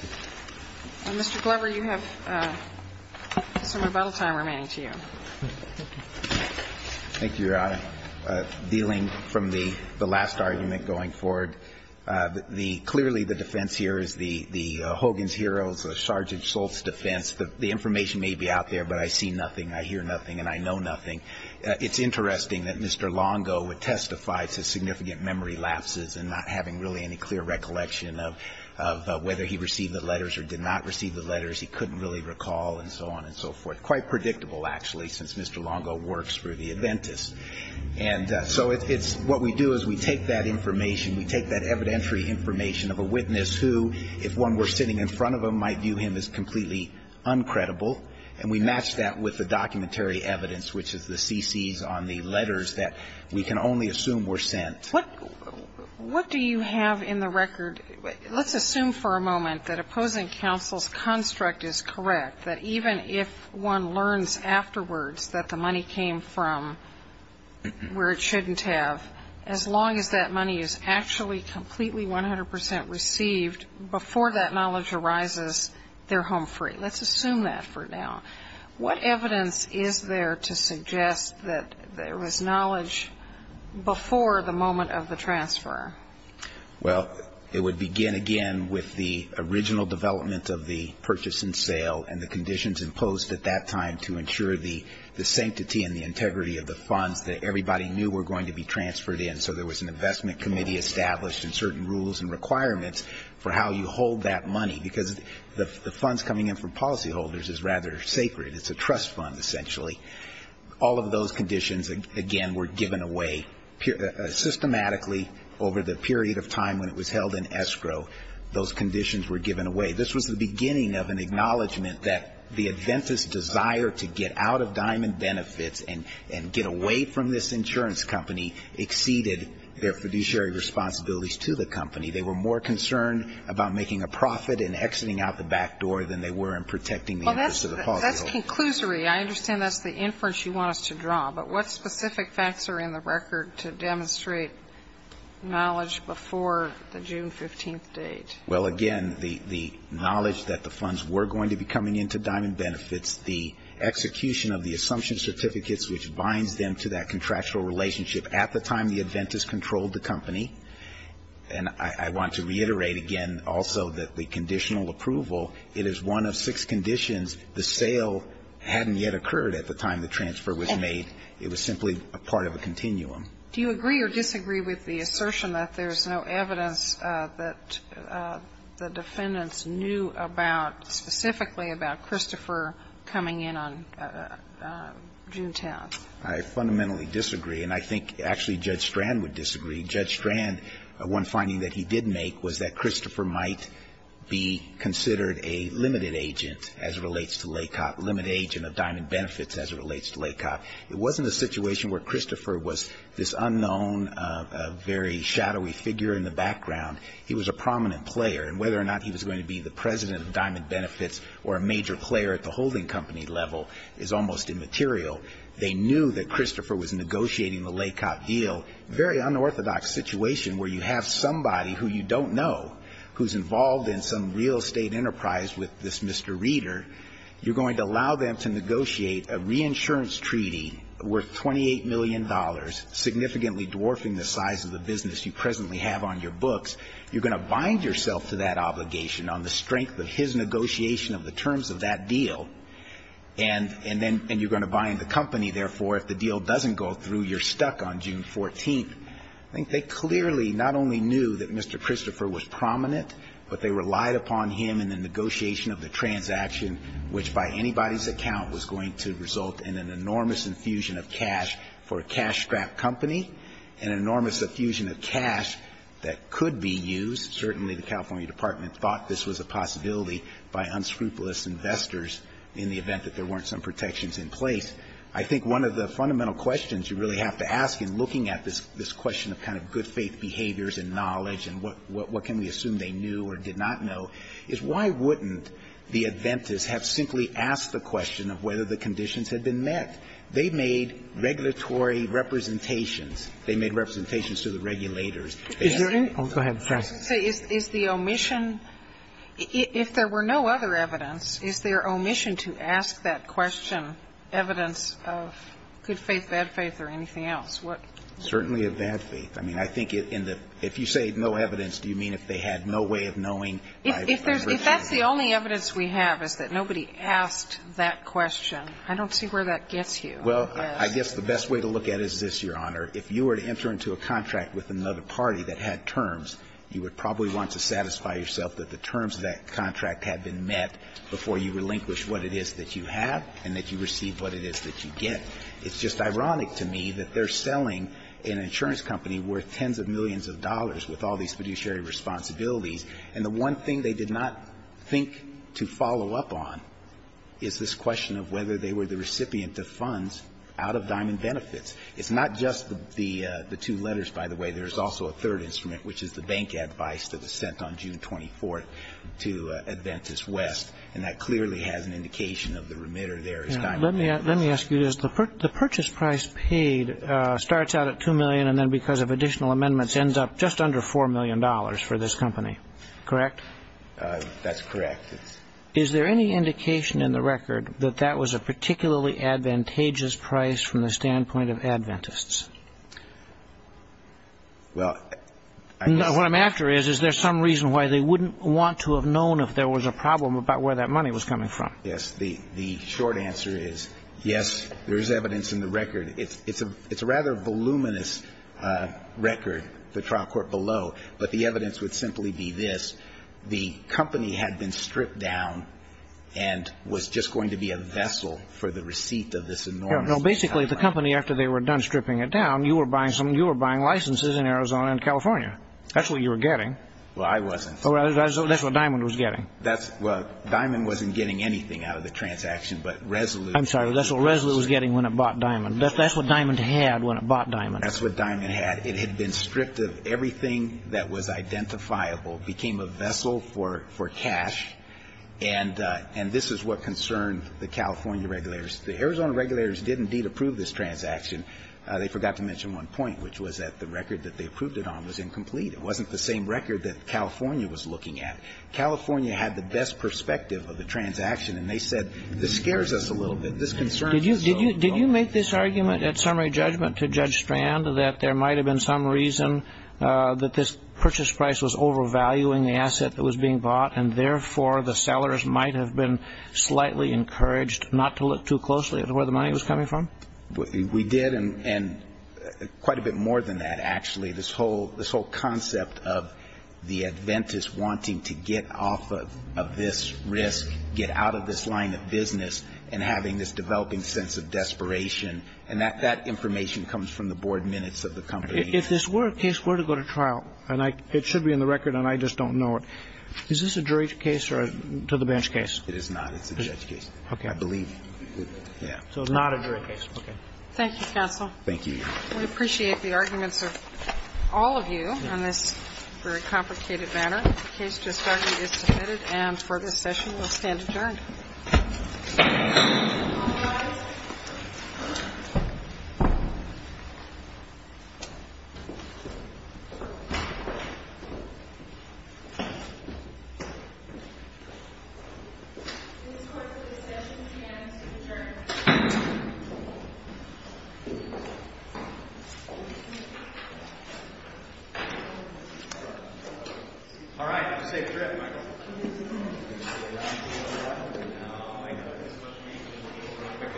Thank you, Your Honor. Dealing from the last argument going forward. Clearly the defense here is the Hogan's Heroes, the Sargeant Schultz defense. The information may be out there, but I see nothing. I hear nothing. And I know nothing. It's interesting that Mr. Longo would testify to significant memory lapses and not having really any clear recollection of whether he received the letters or did not receive the letters. He couldn't really recall and so on and so forth. Quite predictable, actually, since Mr. Longo works for the Adventists. And so what we do is we take that information, we take that evidentiary information of a witness who, if one were sitting in front of him, might view him as completely uncredible and we match that with the documentary evidence, which is the CCs on the letters that we can only assume were sent. What do you have in the record? Let's assume for a moment that opposing counsel's construct is correct, that even if one learns afterwards that the money came from where it shouldn't have, as long as that money is actually completely 100 percent received, before that knowledge arises, they're home free. Let's assume that for now. What evidence is there to suggest that there was knowledge before the moment of the transfer? Well, it would begin again with the original development of the purchase and sale and the conditions imposed at that time to ensure the sanctity and the integrity of the funds that everybody knew were going to be transferred in. So there was an investment committee established and certain rules and requirements for how you hold that money. Because the funds coming in from policyholders is rather sacred. It's a trust fund, essentially. All of those conditions, again, were given away. Systematically, over the period of time when it was held in escrow, those conditions were given away. This was the beginning of an acknowledgment that the Adventist's desire to get out of Diamond Benefits and get away from this insurance company exceeded their fiduciary responsibilities to the company. They were more concerned about making a profit and exiting out the back door than they were in protecting the interests of the policyholders. Well, that's conclusory. I understand that's the inference you want us to draw. But what specific facts are in the record to demonstrate knowledge before the June 15th date? Well, again, the knowledge that the funds were going to be coming into Diamond Benefits, the execution of the assumption certificates which binds them to that contractual relationship at the time the Adventists controlled the company. And I want to reiterate again also that the conditional approval, it is one of six conditions. The sale hadn't yet occurred at the time the transfer was made. It was simply a part of a continuum. Do you agree or disagree with the assertion that there's no evidence that the defendants knew about specifically about Christopher coming in on June 10th? I fundamentally disagree. And I think actually Judge Strand would disagree. Judge Strand, one finding that he did make was that Christopher might be considered a limited agent as it relates to LACOP, a limited agent of Diamond Benefits as it relates to LACOP. It wasn't a situation where Christopher was this unknown, very shadowy figure in the background. He was a prominent player. And whether or not he was going to be the president of Diamond Benefits or a major player at the holding company level is almost immaterial. They knew that Christopher was negotiating the LACOP deal. Very unorthodox situation where you have somebody who you don't know who's involved in some real estate enterprise with this Mr. Reader. You're going to allow them to negotiate a reinsurance treaty worth $28 million, significantly dwarfing the size of the business you presently have on your books. You're going to bind yourself to that obligation on the strength of his negotiation of the terms of that deal. And then you're going to bind the company. Therefore, if the deal doesn't go through, you're stuck on June 14th. I think they clearly not only knew that Mr. Christopher was prominent, but they relied upon him in the negotiation of the transaction, which by anybody's account was going to result in an enormous infusion of cash for a cash-strapped company, an enormous infusion of cash that could be used. Certainly the California Department thought this was a possibility by unscrupulous investors in the event that there weren't some protections in place. I think one of the fundamental questions you really have to ask in looking at this question of kind of good faith behaviors and knowledge and what can we assume they knew or did not know is why wouldn't the Adventists have simply asked the question of whether the conditions had been met? They made regulatory representations. They made representations to the regulators. Is there any? Oh, go ahead. If there were no other evidence, is there omission to ask that question, evidence of good faith, bad faith or anything else? Certainly of bad faith. I mean, I think if you say no evidence, do you mean if they had no way of knowing If that's the only evidence we have is that nobody asked that question, I don't see where that gets you. Well, I guess the best way to look at it is this, Your Honor. If you were to enter into a contract with another party that had terms, you would probably want to satisfy yourself that the terms of that contract had been met before you relinquish what it is that you have and that you receive what it is that you get. It's just ironic to me that they're selling an insurance company worth tens of millions of dollars with all these fiduciary responsibilities and the one thing they did not think to follow up on is this question of whether they were the recipient of funds out of Diamond Benefits. It's not just the two letters, by the way. There's also a third instrument, which is the bank advice that was sent on June 24 to Adventist West and that clearly has an indication of the remitter there is Diamond Benefits. Let me ask you this. The purchase price paid starts out at $2 million and then because of additional amendments ends up just under $4 million for this company. Correct? That's correct. Is there any indication in the record that that was a particularly advantageous price from the standpoint of Adventists? Well, I guess... What I'm after is, is there some reason why they wouldn't want to have known if there was a problem about where that money was coming from? Yes. The short answer is, yes, there is evidence in the record. It's a rather voluminous record, the trial court below, but the evidence would simply be this. The company had been stripped down and was just going to be a vessel for the receipt of this enormous amount. Basically, the company, after they were done stripping it down, you were buying licenses in Arizona and California. That's what you were getting. Well, I wasn't. That's what Diamond was getting. Diamond wasn't getting anything out of the transaction, but Resolute... I'm sorry, that's what Resolute was getting when it bought Diamond. That's what Diamond had when it bought Diamond. That's what Diamond had. It had been stripped of everything that was identifiable, became a vessel for cash, and this is what concerned the California regulators. The Arizona regulators did indeed approve this transaction. They forgot to mention one point, which was that the record that they approved it on was incomplete. It wasn't the same record that California was looking at. California had the best perspective of the transaction, and they said, this scares us a little bit. Did you make this argument at summary judgment to Judge Strand that there might have been some reason that this purchase price was overvaluing the asset that was being bought, and therefore the sellers might have been slightly encouraged not to look too closely at where the money was coming from? We did, and quite a bit more than that, actually. This whole concept of the Adventists wanting to get off of this risk, get out of this line of business, and having this developing sense of desperation, and that information comes from the board minutes of the company. If this were a case were to go to trial, and it should be in the record and I just don't know it, is this a jury case or a to-the-bench case? It is not. It's a judge case. Okay. I believe. Yeah. So it's not a jury case. Okay. Thank you, counsel. Thank you. We appreciate the arguments of all of you on this very complicated matter. The case just started is submitted, and for this session we'll stand adjourned. All rise. This court for this session stands adjourned. All right. Safe trip, Michael. No. I know. There's much reason to be terrific at that. I can't hear you. Thank you very much. Thank you very much. Thank you. Yeah.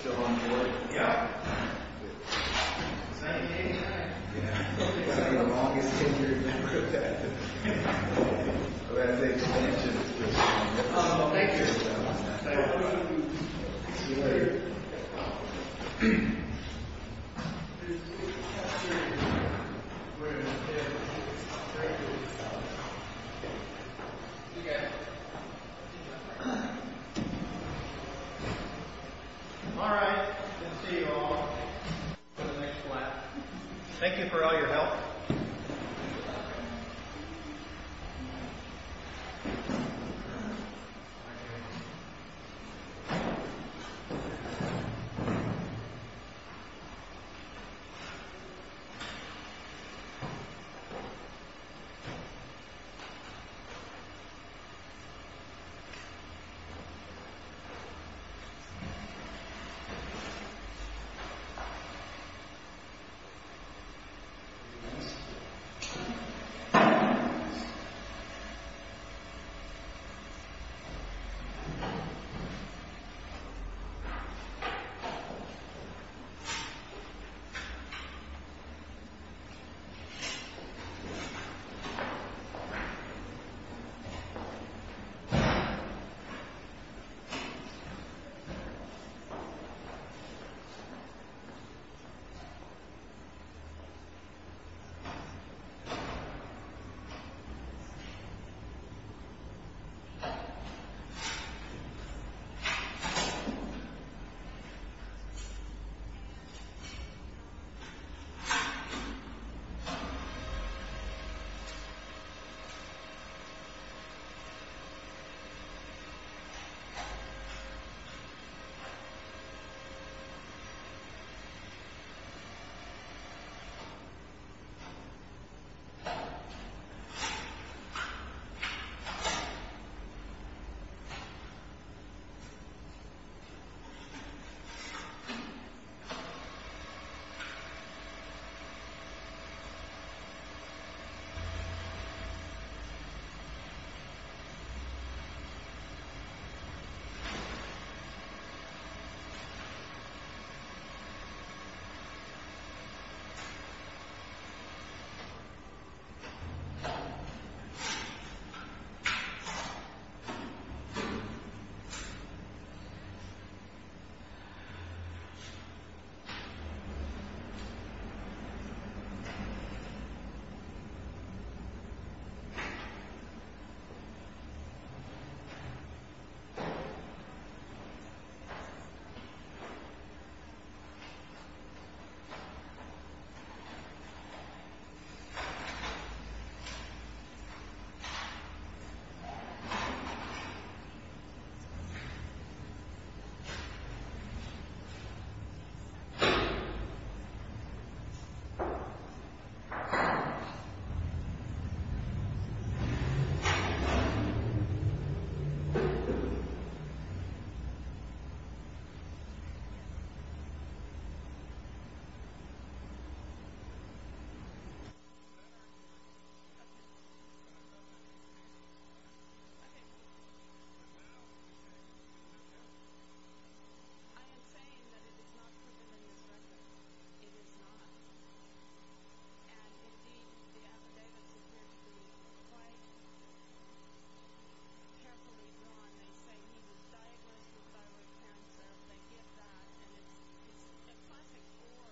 Still on board? Yeah. Is that you? Yeah. It's been the longest tenure I've ever had. I'm about to take a picture. Oh, thank you. See you later. See you guys. All right. I'll see you all in the next lap. Thank you for all your help. Thank you. Thank you. Thank you. Thank you. Thank you. Yes. Okay. Okay. Okay. Okay. I am saying that it is not proven in this record. It is not. And indeed, the affidavits appear to be quite carefully drawn. And they say he was diagnosed with thyroid cancer. They get that. And it's a classic four.